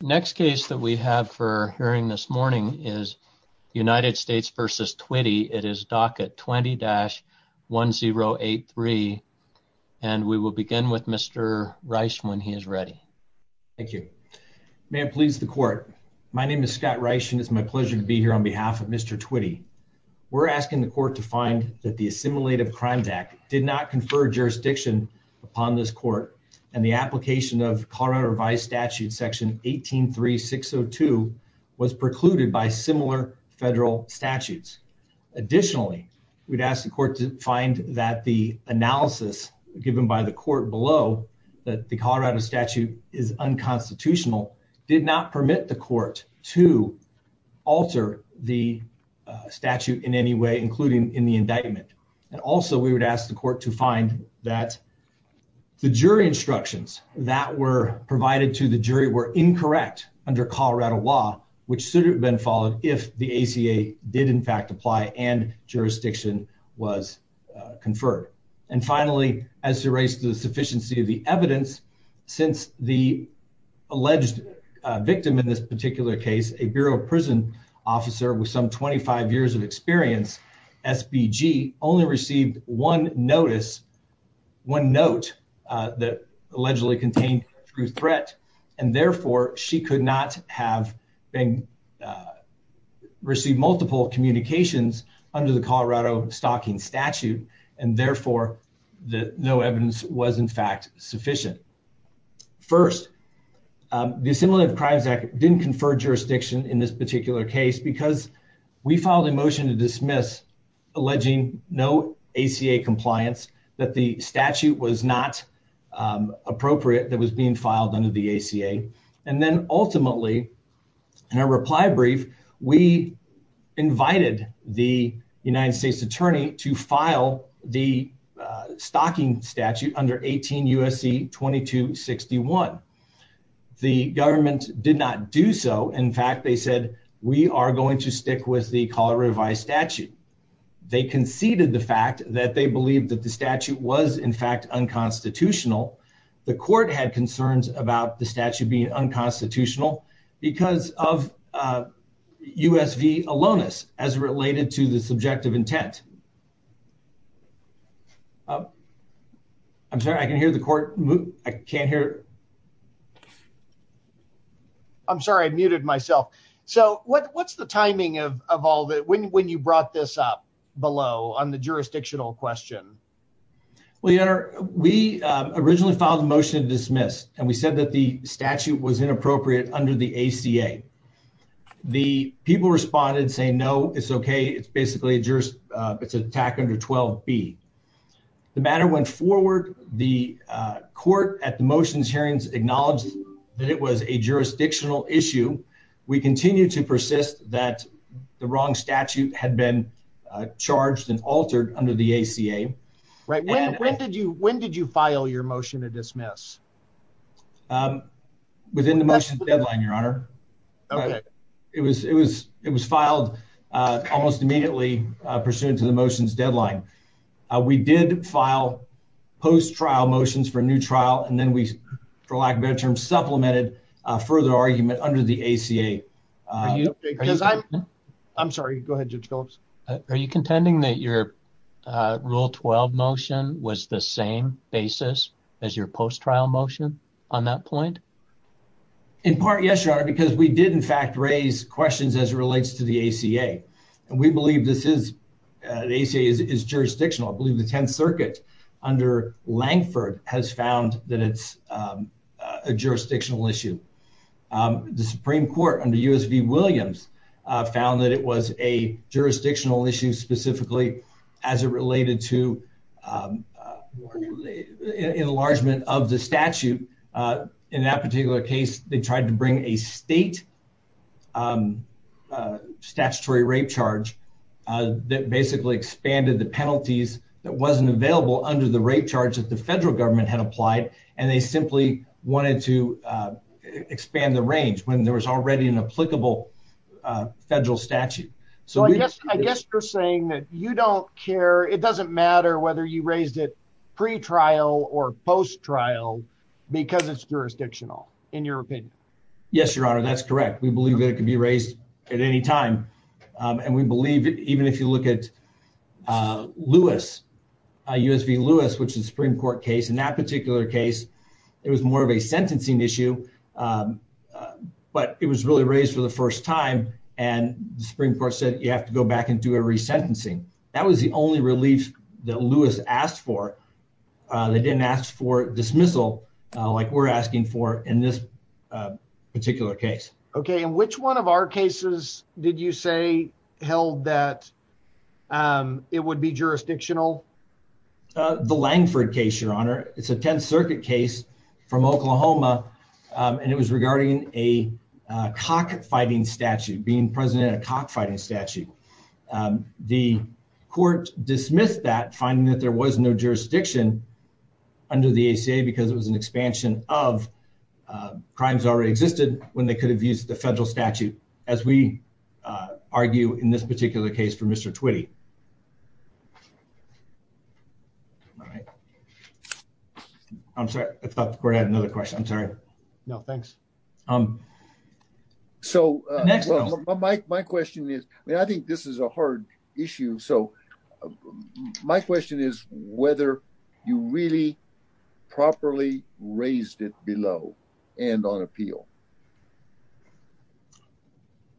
Next case that we have for hearing this morning is United States v. Twitty. It is docket 20-1083. And we will begin with Mr. Rice when he is ready. Thank you. May it please the court. My name is Scott Rice and it's my pleasure to be here on behalf of Mr. Twitty. We're asking the court to find that the assimilative crimes act did not confer jurisdiction upon this court and the application of Colorado revised statute section 183602 was precluded by similar federal statutes. Additionally, we'd ask the court to find that the analysis given by the court below that the Colorado statute is unconstitutional did not permit the court to alter the statute in any way, including in the indictment. And also we would ask the court to find that the jury instructions that were provided to the jury were incorrect under Colorado law, which should have been followed if the ACA did in fact apply and jurisdiction was conferred. And finally, as to raise the sufficiency of the evidence, since the alleged victim in this particular case, a Bureau of prison officer with some 25 years of experience, SBG only received one notice, one note, uh, that allegedly contained through threat. And therefore she could not have been, uh, received multiple communications under the Colorado stocking statute. And therefore the no evidence was in fact sufficient. First, um, the assimilative crimes act didn't confer jurisdiction in this particular case because we filed a motion to dismiss alleging no ACA compliance, that the statute was not, um, appropriate that was being filed under the ACA. And then ultimately in a reply brief, we invited the United States attorney to file the, uh, stocking statute under 18 USC 22 61. The government did not do so. In fact, they said, we are going to stick with the Colorado revised statute. They conceded the fact that they believed that the statute was in fact unconstitutional. The court had concerns about the statute being unconstitutional because of, uh, U. S. V. Alonus as related to the subjective intent. Uh, I'm sorry. I can hear the court. I can't hear. I'm sorry. I muted myself. So what? What's the timing of of all that when when you brought this up below on the jurisdictional question? We are. We originally filed a motion to dismiss and we said that the statute was inappropriate under the ACA. The people responded saying no, it's okay. It's basically a jurist. It's an attack under 12 B. The matter went forward. The court at the motions hearings acknowledged that it was a jurisdictional issue. We continue to persist that the wrong statute had been charged and altered under the ACA. Right? When did you? When did you file your motion to dismiss? Um, within the motion deadline, Your Honor. It was. It was. It was filed almost immediately pursuant to the motions deadline. We did file post trial motions for new trial, and then we, for lack of better term, supplemented further argument under the ACA. Are you? I'm sorry. Go ahead. Judge Phillips. Are you contending that your rule 12 motion was the same basis as your post trial motion on that point? In part, yes, Your Honor, because we did, in fact, raise questions as it relates to the ACA, and we believe this is the ACA is jurisdictional. I believe the 10th Circuit under Langford has found that it's, um, a jurisdictional issue. The Supreme Court under U. S. V. Williams found that it was a jurisdictional issue specifically as it related to, um, enlargement of the statute. Uh, in that particular case, they tried to statutory rape charge that basically expanded the penalties that wasn't available under the rate charge that the federal government had applied, and they simply wanted to expand the range when there was already an applicable federal statute. So I guess I guess you're saying that you don't care. It doesn't matter whether you raised it pre trial or post trial because it's jurisdictional in your opinion. Yes, Your Honor. That's correct. We believe that it could be raised at any time. Um, and we believe even if you look at, uh, Lewis U. S. V. Lewis, which is Supreme Court case in that particular case, it was more of a sentencing issue. Um, but it was really raised for the first time, and the Supreme Court said you have to go back and do a resentencing. That was the only relief that Lewis asked for. Uh, they didn't ask for dismissal like we're asking for in this, uh, particular case. Okay. And which one of our cases did you say held that, um, it would be jurisdictional? The Langford case, Your Honor. It's a 10th Circuit case from Oklahoma, and it was regarding a cock fighting statute being president of cock fighting statute. Um, the court dismissed that finding that there was no jurisdiction under the A. C. A. Because it was an expansion of, uh, crimes already existed when they could have used the federal statute as we, uh, argue in this particular case for Mr Twitty. All right. I'm sorry. I thought we had another question. I'm sorry. No, thanks. Um, so my question is, I think this is a hard issue. So my question is whether you really properly raised it below and on appeal.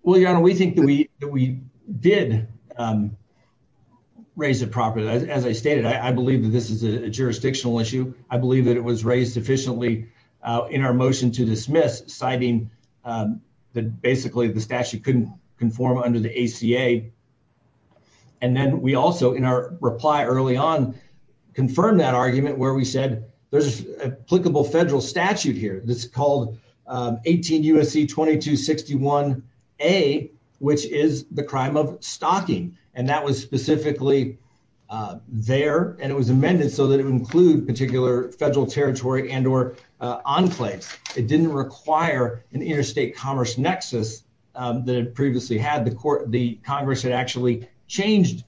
Well, you know, we think that we did, um, raise it properly. As I stated, I believe that this is a jurisdictional issue. I believe that it was raised efficiently in our motion to dismiss, citing, um, that basically the statute couldn't conform under the A. C. A. And then we also, in our reply early on, confirmed that argument where we said there's applicable federal statute here. This called, um, 18 U. S. C. 22 61 a which is the crime of stocking. And that was specifically, uh, there and it was amended so that it would include particular federal territory and or enclaves. It didn't require an interstate commerce nexus that it previously had the court. The Congress had actually changed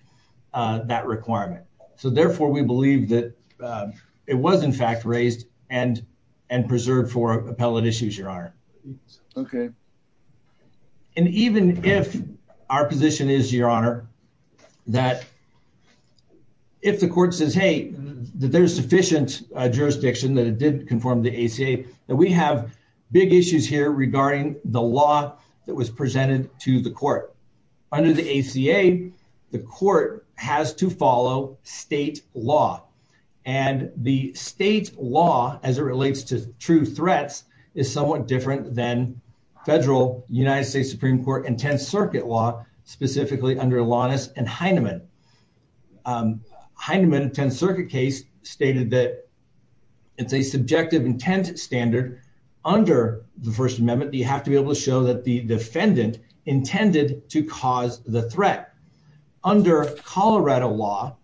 that requirement. So therefore, we believe that it was, in fact, raised and and preserved for appellate issues. Your Honor. Okay. And even if our position is, Your Honor, that if the court says, Hey, there's sufficient jurisdiction that it did conform the A. C. A. That we have big issues here regarding the law that was presented to the court under the A. C. A. The court has to follow state law, and the state law as it relates to true threats is somewhat different than federal United States Supreme Court and 10th Circuit law, specifically under Alanis and Heineman. Um, Heineman 10th Circuit case stated that it's a subjective intent standard under the First Amendment. You have to be able to show that the defendant intended to cause the threat under Colorado law.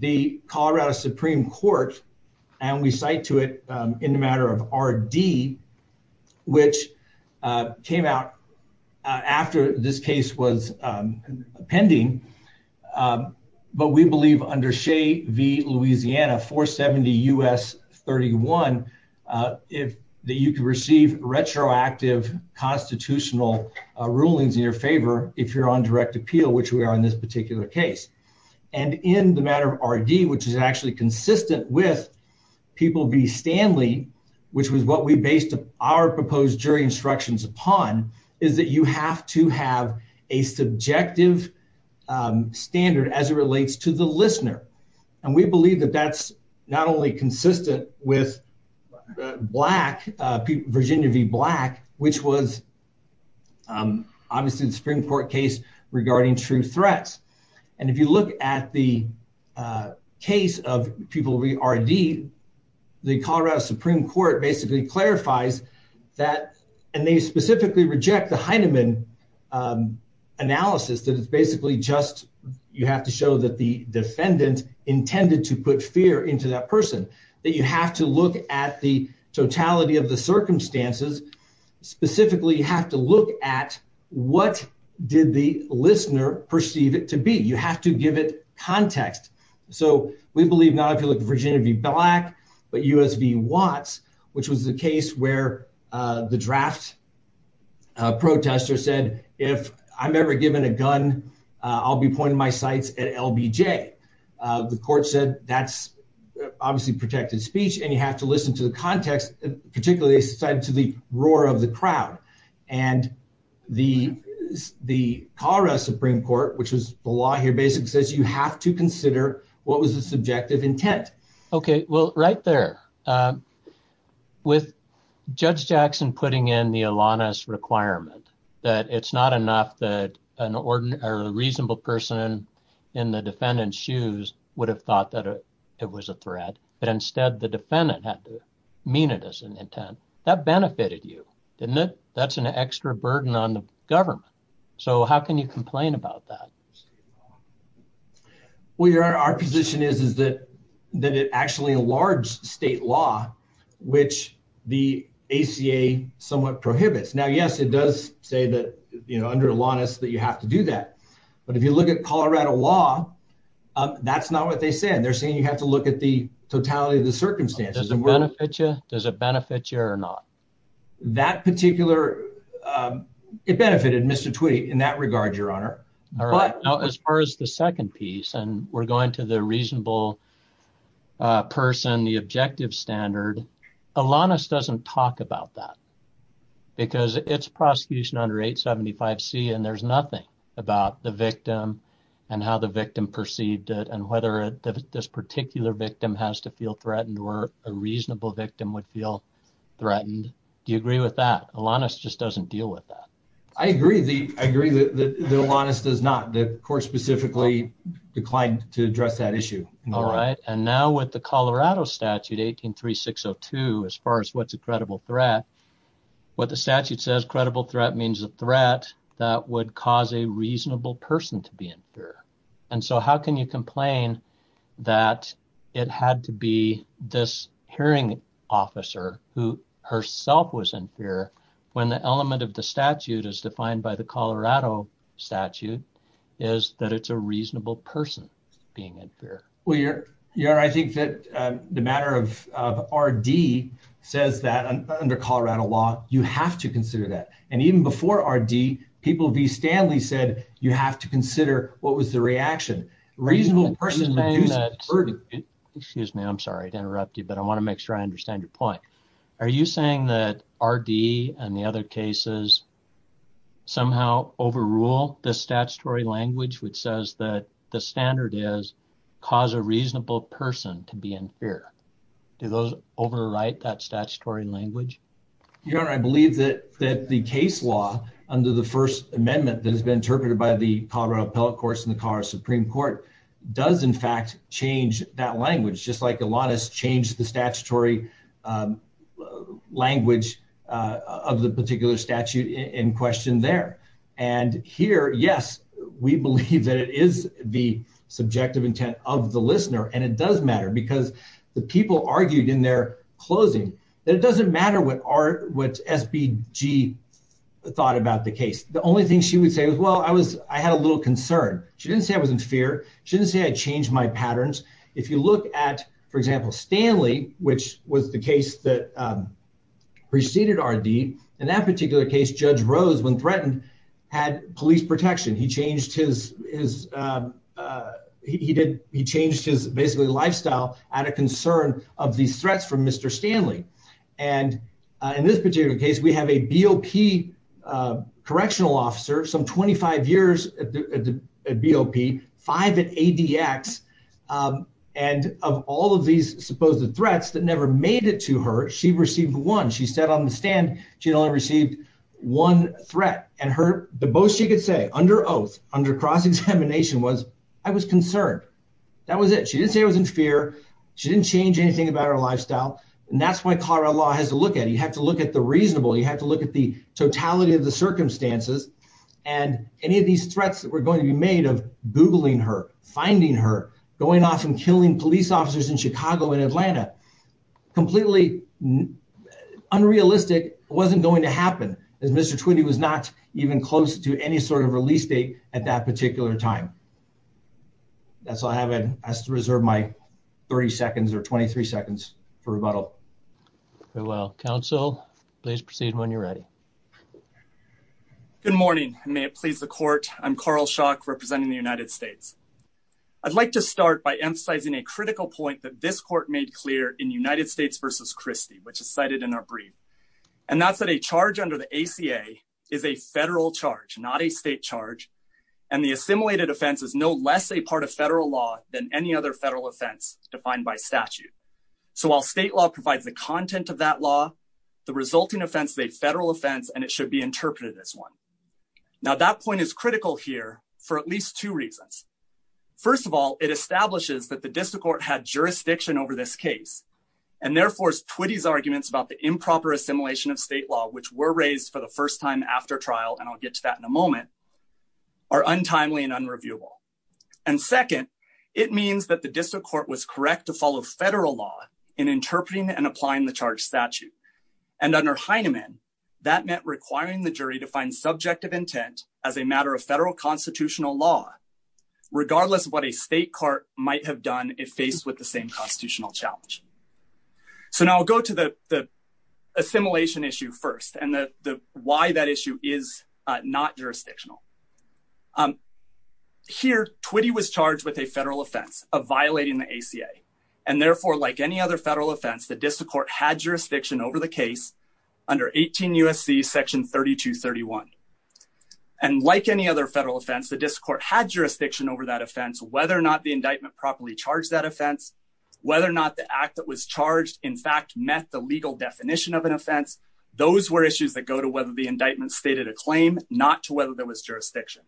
The Colorado Supreme Court approved, and we cite to it in the matter of R. D. Which came out after this case was pending. Um, but we believe under Shea v Louisiana 4 70 U. S. 31 if you could receive retroactive constitutional rulings in your favor if you're on direct appeal, which we are in this particular case and in the matter of R. D. Which is actually consistent with people be Stanley, which was what we based our proposed jury instructions upon is that you have to have a subjective, um, standard as it relates to the listener. And we believe that that's not only consistent with black Virginia v Black, which was, um, obviously the Supreme Court case regarding true threats. And if you look at the, uh, case of people we R. D. The Colorado Supreme Court basically clarifies that, and they specifically reject the Heineman, um, analysis that it's basically just you have to show that the defendant intended to put fear into that person that you have to look at the totality of the circumstances specifically you have to look at what did the listener perceive it to be? You have to give it context. So we believe not if you look at Virginia v Black, but U. S. V. Watts, which was the case where the draft protester said, If I'm ever given a gun, I'll be pointing my sights at L. B. J. The court said that's obviously protected speech, and you have to listen to the context, particularly said to the roar of the crowd and the the Colorado Supreme Court, which is the law here basically says you have to consider what was the subjective intent. Okay, well, right there, um, with Judge Jackson putting in the Alanis requirement that it's not enough that an ordinary reasonable person in the defendant's shoes would have thought that it was a threat, but instead the defendant had to mean it as an intent that benefited you, didn't it? That's an extra burden on the government. So how can you complain about that? Well, you're in our position is, is that that it actually a large state law, which the A. C. A. Somewhat prohibits. Now, yes, it does say that, you know, under Alanis that you have to do that. But if you look at Colorado law, that's not what they said. They're saying you have to look at the totality of the circumstances. Does it benefit you? Does it benefit you or not? That particular, um, it benefited Mr Tweet in that regard, Your Honor. But as far as the second piece, and we're going to the reasonable person, the objective standard, Alanis doesn't talk about that because it's prosecution under 875 C. And there's nothing about the victim and how the victim perceived it and whether this particular victim has to feel threatened or a reasonable victim would feel threatened. Do you agree with that? Alanis just doesn't deal with that. I agree. I agree that Alanis does not the court specifically declined to address that issue. All right. And now with the Colorado statute, 18 3602, as far as what's a credible threat, what the statute says, credible threat means a threat that would cause a reasonable person to be in fear. And so how can you complain that it had to be this hearing officer who herself was in fear when the element of the statute is defined by the Colorado statute is that it's a reasonable person being in fear? Well, Your Honor, I think that the matter of R.D. says that under Colorado law, you have to consider that. And even before R.D., people V. Stanley said you have to consider what was the reaction. Reasonable person. Excuse me. I'm sorry to interrupt you, but I want to make sure I understand your point. Are you saying that R.D. and the other cases somehow overrule the statutory language, which says that the standard is cause a reasonable person to be in fear? Do those overwrite that statutory language? Your Honor, I believe that that the case law under the First Amendment that has been interpreted by the Colorado appellate courts in the Colorado Supreme Court does, in fact, change that language, just like a lot has changed the statutory language of the particular statute in question there. And here, yes, we believe that it is the subjective intent of the listener. And it does matter because the people argued in their closing that it doesn't matter what SBG thought about the case. The only thing she would say was, well, I was I had a little concern. She didn't say I was in fear. She didn't say I changed my patterns. If you look at, for example, Stanley, which was the case that preceded R.D. in that he did, he changed his basically lifestyle out of concern of these threats from Mr. Stanley. And in this particular case, we have a BOP correctional officer, some 25 years at the BOP, five at ADX. And of all of these supposed threats that never made it to her, she received one. She sat on the stand. She only received one threat. And her the most she could say under oath, under cross-examination was, I was concerned. That was it. She didn't say I was in fear. She didn't change anything about her lifestyle. And that's why Colorado law has to look at it. You have to look at the reasonable. You have to look at the totality of the circumstances and any of these threats that were going to be made of googling her, finding her, going off and killing police officers in Chicago and Atlanta. Completely unrealistic wasn't going to happen as Mr. Twinney was not even close to any sort of release date at that particular time. That's all I have. I have to reserve my 30 seconds or 23 seconds for rebuttal. Very well. Counsel, please proceed when you're ready. Good morning. May it please the court. I'm Carl Shock representing the United States. I'd like to start by emphasizing a critical point that this court made clear in United States versus Christie, which is cited in our brief. And that's that a charge under the ACA is a federal charge, not a state charge. And the assimilated offense is no less a part of federal law than any other federal offense defined by statute. So while state law provides the content of that law, the resulting offense, the federal offense, and it should be interpreted as one. Now, that point is critical here for at least two reasons. First of all, it establishes that the district court had jurisdiction over this case and therefore Twitty's arguments about the improper assimilation of state law, which were raised for the first time after trial. And I'll get to that in a moment are untimely and unreviewable. And second, it means that the district court was correct to follow federal law in interpreting and applying the charge statute. And under Heinemann, that meant requiring the jury to find subjective intent as a matter of if faced with the same constitutional challenge. So now I'll go to the assimilation issue first and why that issue is not jurisdictional. Here, Twitty was charged with a federal offense of violating the ACA. And therefore, like any other federal offense, the district court had jurisdiction over the case under 18 U.S.C. Section 3231. And like any other federal offense, the district court had jurisdiction over that offense, whether or not the indictment properly charged that offense, whether or not the act that was charged, in fact, met the legal definition of an offense. Those were issues that go to whether the indictment stated a claim, not to whether there was jurisdiction.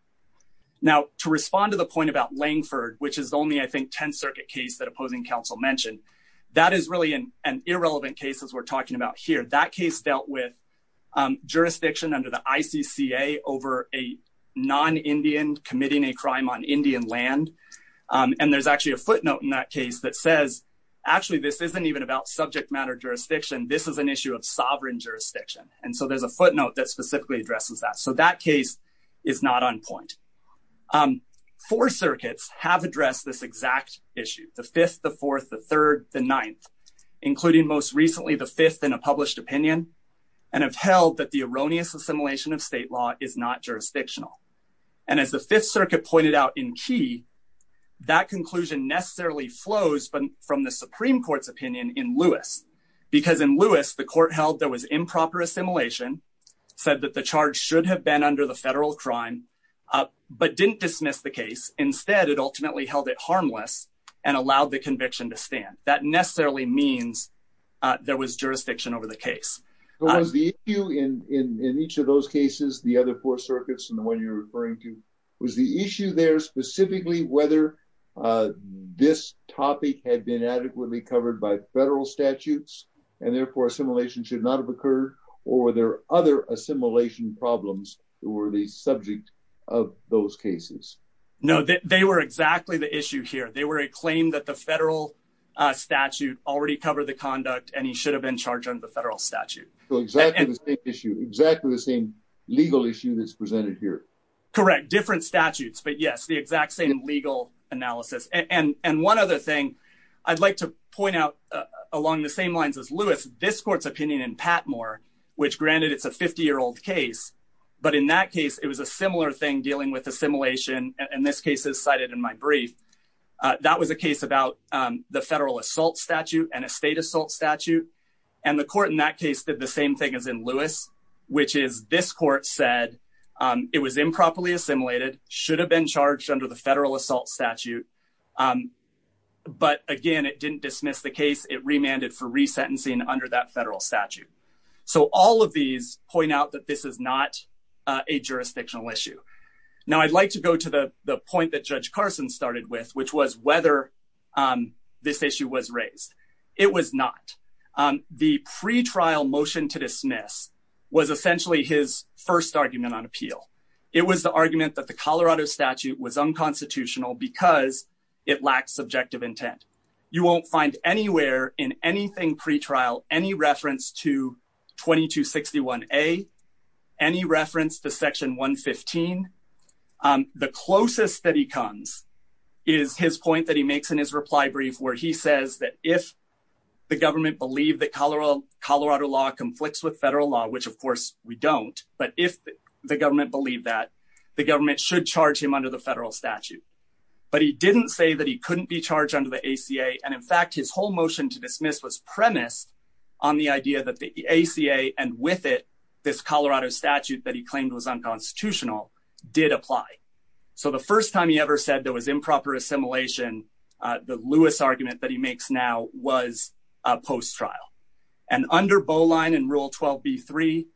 Now, to respond to the point about Langford, which is only, I think, 10th Circuit case that opposing counsel mentioned, that is really an irrelevant case, as we're talking about here. That case dealt with and there's actually a footnote in that case that says, actually, this isn't even about subject matter jurisdiction. This is an issue of sovereign jurisdiction. And so there's a footnote that specifically addresses that. So that case is not on point. Four circuits have addressed this exact issue, the fifth, the fourth, the third, the ninth, including most recently the fifth in a published opinion, and have held that the erroneous assimilation of state law is not jurisdictional. And as the Fifth Circuit pointed out in key, that conclusion necessarily flows from the Supreme Court's opinion in Lewis, because in Lewis, the court held there was improper assimilation, said that the charge should have been under the federal crime, but didn't dismiss the case. Instead, it ultimately held it harmless and allowed the conviction to stand. That necessarily means there was jurisdiction over the case. Was the you in in in each of those cases, the other four circuits and the one you're referring to was the issue there specifically, whether, uh, this topic had been adequately covered by federal statutes and therefore assimilation should not have occurred, or were there other assimilation problems that were the subject of those cases? No, they were exactly the issue here. They were a claim that the federal statute already covered the conduct and he should have been charged under the federal statute. So exactly the same issue. Exactly the same legal issue that's presented here. Correct. Different statutes. But yes, the exact same legal analysis and and one other thing I'd like to point out along the same lines as Lewis, this court's opinion in Patmore, which granted it's a 50 year old case. But in that case, it was a similar thing dealing with assimilation. And this case is cited in my brief. That was a case about the federal assault statute and a state assault statute. And the court in that case did the same thing as in Lewis, which is this court said it was improperly assimilated, should have been charged under the federal assault statute. But again, it didn't dismiss the case. It remanded for resentencing under that federal statute. So all of these point out that this is not a jurisdictional issue. Now, I'd like to go to the point that Judge Carson started with, which was whether, um, this issue was raised. It was not. Um, the pretrial motion to dismiss was essentially his first argument on appeal. It was the argument that the Colorado statute was unconstitutional because it lacked subjective intent. You won't find anywhere in anything pretrial any reference to 22 61 a any reference to Section 1 15. Um, the closest that he comes is his point that he makes in his reply brief, where he says that if the government believed that Colorado, Colorado law conflicts with federal law, which, of course, we don't. But if the government believed that the government should charge him under the federal statute, but he didn't say that he couldn't be charged under the A. C. A. And, in fact, his whole motion to dismiss was premised on the idea that the A. C. A. And with it, this Colorado statute that he claimed was unconstitutional did apply. So the first time he ever said there was improper assimilation, the Lewis argument that he makes now was post trial and under Bowline and Rule 12 B three.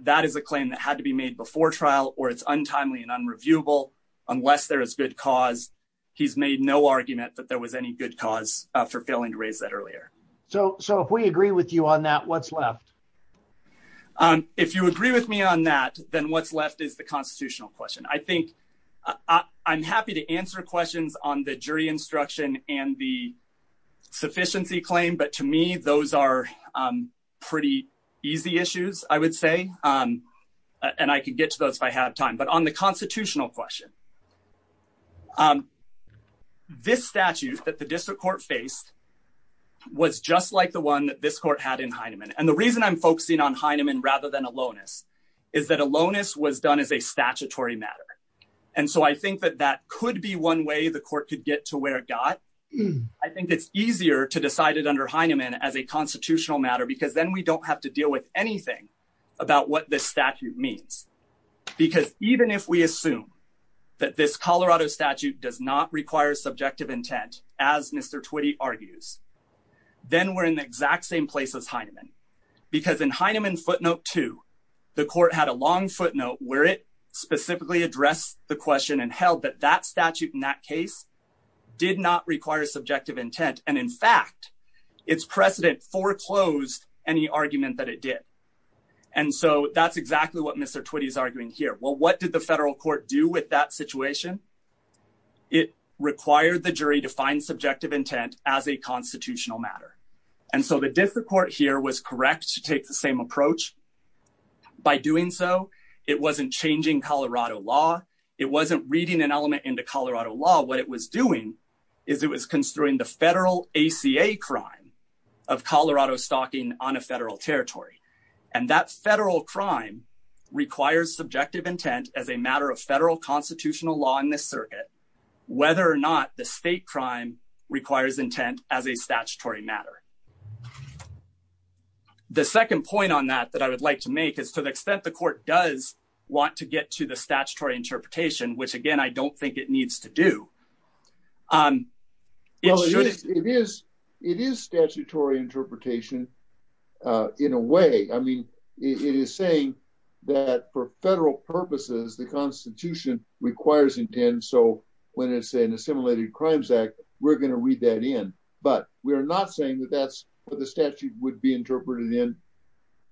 That is a claim that had to be made before trial, or it's untimely and unreviewable unless there is good cause. He's made no argument that there was any good cause for failing to raise that earlier. So if we agree with you on that, what's left? Um, if you agree with me on that, then what's left is the constitutional question. I think I'm happy to answer questions on the jury instruction and the sufficiency claim. But to me, those are pretty easy issues, I would say. Um, and I could get to those if I had time. But on the constitutional question, um, this statute that the district court faced was just like the one that this court had in Heineman. And the reason I'm focusing on Heineman rather than aloneness is that aloneness was done as a statutory matter. And so I think that that could be one way the court could get to where it got. I think it's easier to decide it under Heineman as a constitutional matter, because then we don't have to deal with anything about what this statute means. Because even if we assume that this Colorado statute does not require subjective intent, as Mr Twitty argues, then we're in the exact same place as Heineman. Because in Heineman footnote to the court had a long footnote where it specifically addressed the question and held that that statute in that case did not require subjective intent. And in fact, its precedent foreclosed any argument that it did. And so that's exactly what Mr Twitty is saying. It required the jury to find subjective intent as a constitutional matter. And so the district court here was correct to take the same approach. By doing so, it wasn't changing Colorado law. It wasn't reading an element into Colorado law. What it was doing is it was construing the federal ACA crime of Colorado stocking on a federal territory. And that federal crime requires subjective intent as a matter of federal constitutional law in this circuit, whether or not the state crime requires intent as a statutory matter. The second point on that that I would like to make is to the extent the court does want to get to the statutory interpretation, which again, I don't think it needs to do. It is, it is statutory interpretation. In a way, I mean, it is saying that for federal purposes, the constitution requires intent. So when it's an assimilated crimes act, we're going to read that in. But we are not saying that that's what the statute would be interpreted in.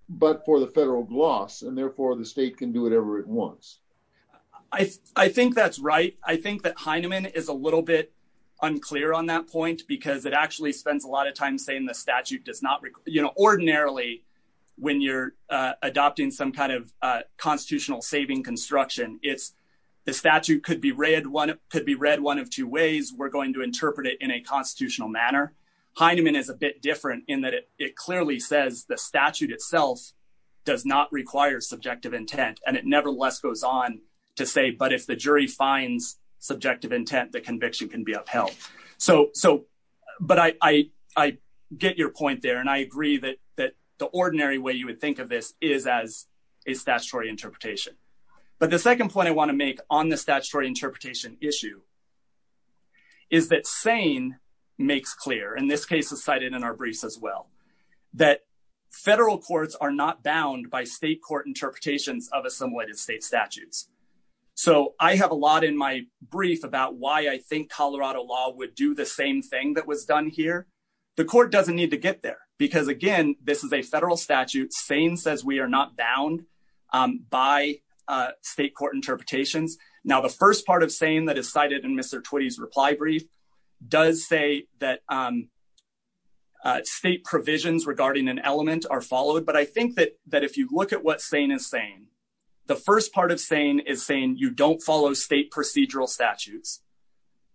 But for the federal gloss, and therefore the state can do whatever it wants. I think that's right. I think that Heineman is a little bit unclear on that point, because it actually spends a lot of time saying the statute does not, you know, ordinarily, when you're constitutional saving construction, it's the statute could be read one could be read one of two ways, we're going to interpret it in a constitutional manner. Heineman is a bit different in that it clearly says the statute itself does not require subjective intent. And it nevertheless goes on to say, but if the jury finds subjective intent, the conviction can be upheld. So, so, but I, I get your point there. And I agree that that the ordinary way you would think of this is as a statutory interpretation. But the second point I want to make on the statutory interpretation issue is that saying makes clear in this case is cited in our briefs as well, that federal courts are not bound by state court interpretations of assimilated state statutes. So I have a lot in my brief about why I think Colorado law would do the same thing that was done here. The court doesn't need to get there. Because again, this is a federal statute saying says we are not bound by state court interpretations. Now, the first part of saying that is cited in Mr. 20s reply brief does say that state provisions regarding an element are followed. But I think that that if you look at what saying is saying, the first part of saying is saying you don't follow state procedural statutes.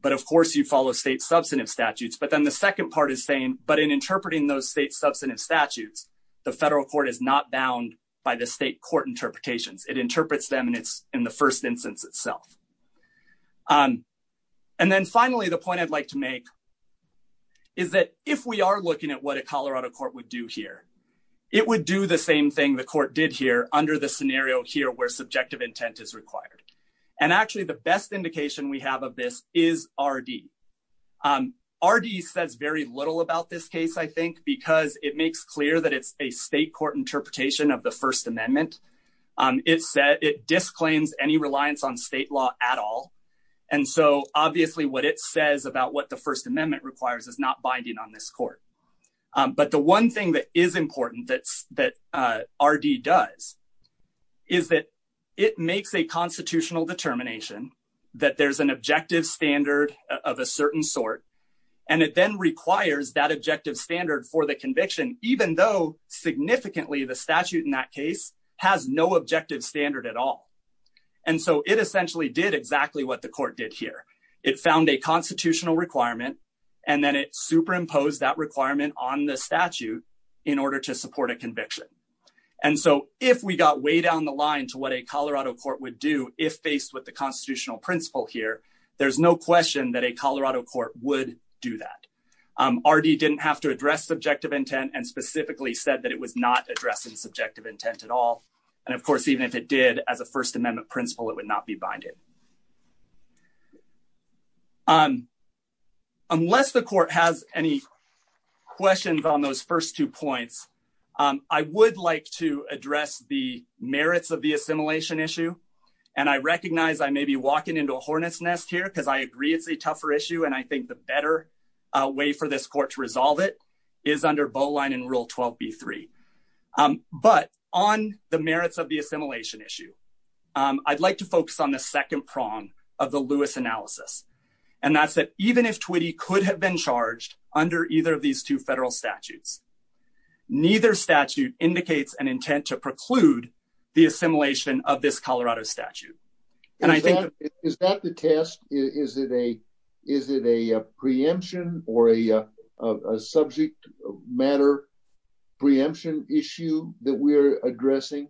But of course, you follow state substantive statutes. But then the second part is saying, but in interpreting those state substantive statutes, the federal court is not bound by the state court interpretations, it interprets them. And it's in the first instance itself. And then finally, the point I'd like to make is that if we are looking at what a Colorado court would do here, it would do the same thing the court did here under the scenario here where subjective intent is required. And actually, the best indication we have of this is RD. RD says very little about this case, I think, because it makes clear that it's a state court interpretation of the First Amendment. It said it disclaims any reliance on state law at all. And so obviously, what it says about what the First Amendment requires is not binding on this court. But the one thing that is important that that RD does is that it makes a constitutional determination that there's an objective standard of a certain sort. And it then requires that objective standard for the conviction, even though significantly, the statute in that case has no objective standard at all. And so it essentially did exactly what the court did here, it found a constitutional requirement. And then it superimposed that requirement on the statute in order to support a conviction. And so if we got way down the line to what a Colorado court would if faced with the constitutional principle here, there's no question that a Colorado court would do that. RD didn't have to address subjective intent and specifically said that it was not addressing subjective intent at all. And of course, even if it did as a First Amendment principle, it would not be binded. Unless the court has any questions on those first two points, I would like to address the merits of the assimilation issue. And I recognize I may be walking into a hornet's nest here because I agree it's a tougher issue. And I think the better way for this court to resolve it is under Bowline and Rule 12. b3. But on the merits of the assimilation issue, I'd like to focus on the second prong of the Lewis analysis. And that's that even if Twitty could have been charged under either of these two federal statutes, neither statute indicates an intent to preclude the assimilation of this Colorado statute. And I think is that the test? Is it a is it a preemption or a subject matter preemption issue that we're addressing?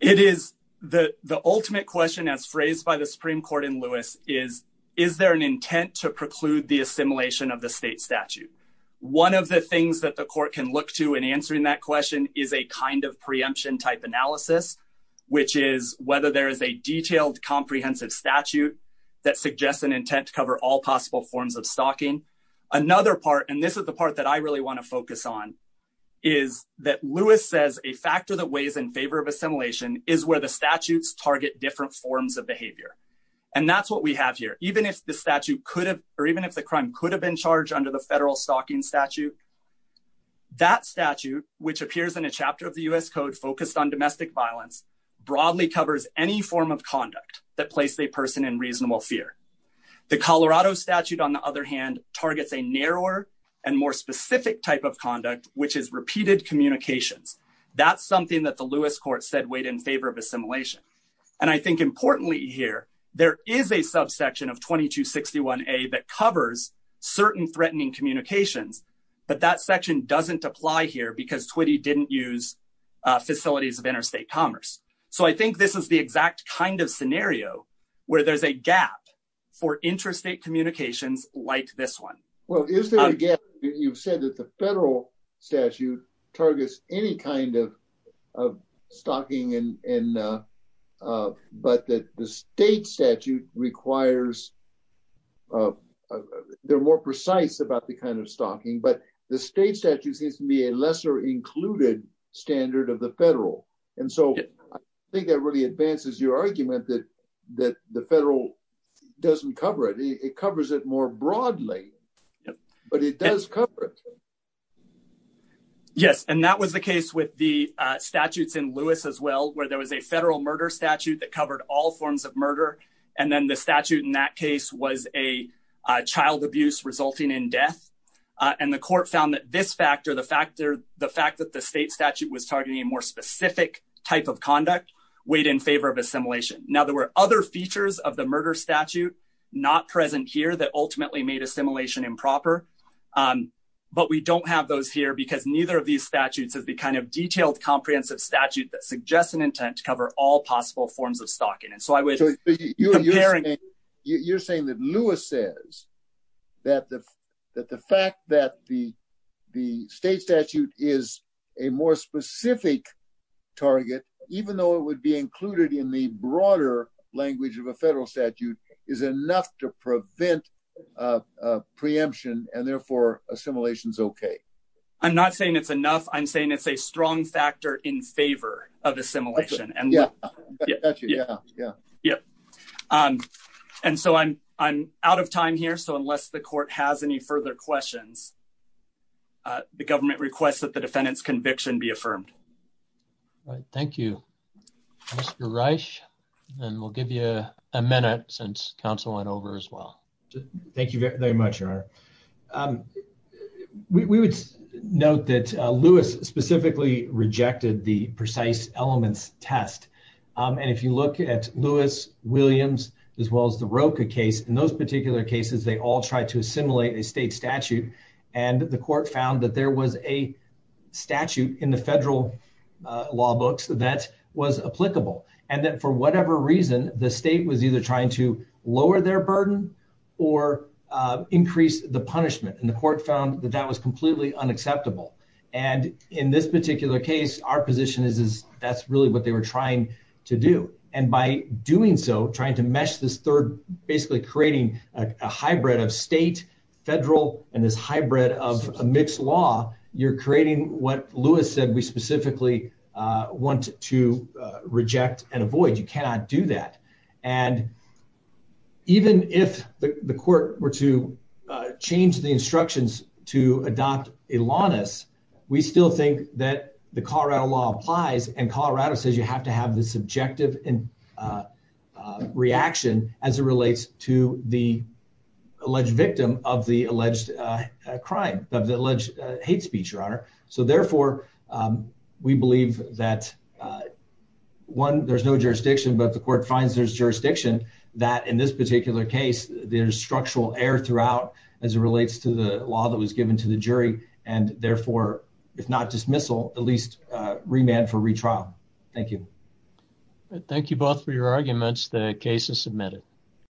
It is the the ultimate question as phrased by the Supreme Court in Lewis is, is there an intent to the assimilation of the state statute? One of the things that the court can look to in answering that question is a kind of preemption type analysis, which is whether there is a detailed comprehensive statute that suggests an intent to cover all possible forms of stalking. Another part, and this is the part that I really want to focus on, is that Lewis says a factor that weighs in favor of assimilation is where the statutes target different forms of behavior. And that's what we have here. Even if the statute could have or even if the crime could have been charged under the federal stalking statute. That statute, which appears in a chapter of the U.S. Code focused on domestic violence, broadly covers any form of conduct that place a person in reasonable fear. The Colorado statute, on the other hand, targets a narrower and more specific type of conduct, which is repeated communications. That's something that the Lewis court said weighed in favor of assimilation. And I think importantly here, there is a subsection of 2261A that covers certain threatening communications, but that section doesn't apply here because Twiddy didn't use facilities of interstate commerce. So I think this is the exact kind of scenario where there's a gap for interstate communications like this one. Well, is there a gap that you've said that the but that the state statute requires, they're more precise about the kind of stalking, but the state statute seems to be a lesser included standard of the federal. And so I think that really advances your argument that the federal doesn't cover it. It covers it more broadly, but it does cover it. Yes, and that was the case with the statutes in Lewis as well, where there was a federal murder statute that covered all forms of murder. And then the statute in that case was a child abuse resulting in death. And the court found that this factor, the factor, the fact that the state statute was targeting a more specific type of conduct weighed in favor of assimilation. Now, there were other features of the murder statute not present here that ultimately made assimilation improper. But we don't have those here because neither of these statutes is the kind of detailed, comprehensive statute that suggests an intent to cover all possible forms of stalking. And so I would say you're saying that Lewis says that the fact that the state statute is a more specific target, even though it would be included in the broader language of a federal statute, is enough to prevent preemption and therefore assimilation is OK. I'm not saying it's enough. I'm saying it's a strong factor in favor of assimilation. And yeah, yeah, yeah. And so I'm I'm out of time here. So unless the court has any further questions, the government requests that the defendant's conviction be affirmed. Thank you, Mr. Reich. And we'll give you a minute since council went over as well. Thank you very much, Your Honor. We would note that Lewis specifically rejected the precise elements test. And if you look at Lewis, Williams, as well as the Roka case, in those particular cases, they all tried to assimilate a state statute. And the court found that there was a statute in the federal law books that was applicable and that for whatever reason, the state was either trying to lower their burden or increase the punishment. And the court found that that was completely unacceptable. And in this particular case, our position is that's really what they were trying to do. And by doing so, trying to mesh this third, basically creating a hybrid of state, federal and this hybrid of a mixed law, you're creating what Lewis said we specifically want to reject and avoid. You cannot do that. And even if the court were to change the instructions to adopt a lawness, we still think that the Colorado law applies. And Colorado says you have to have the subjective and reaction as it relates to the alleged victim of the alleged crime of the alleged hate speech, Your Honor. So therefore, we believe that one, there's no jurisdiction, but the court finds there's jurisdiction that in this particular case, there's structural air throughout as it relates to the law that was given to the jury. And therefore, if not dismissal, at least remand for retrial. Thank you. Thank you both for your arguments. The case is submitted.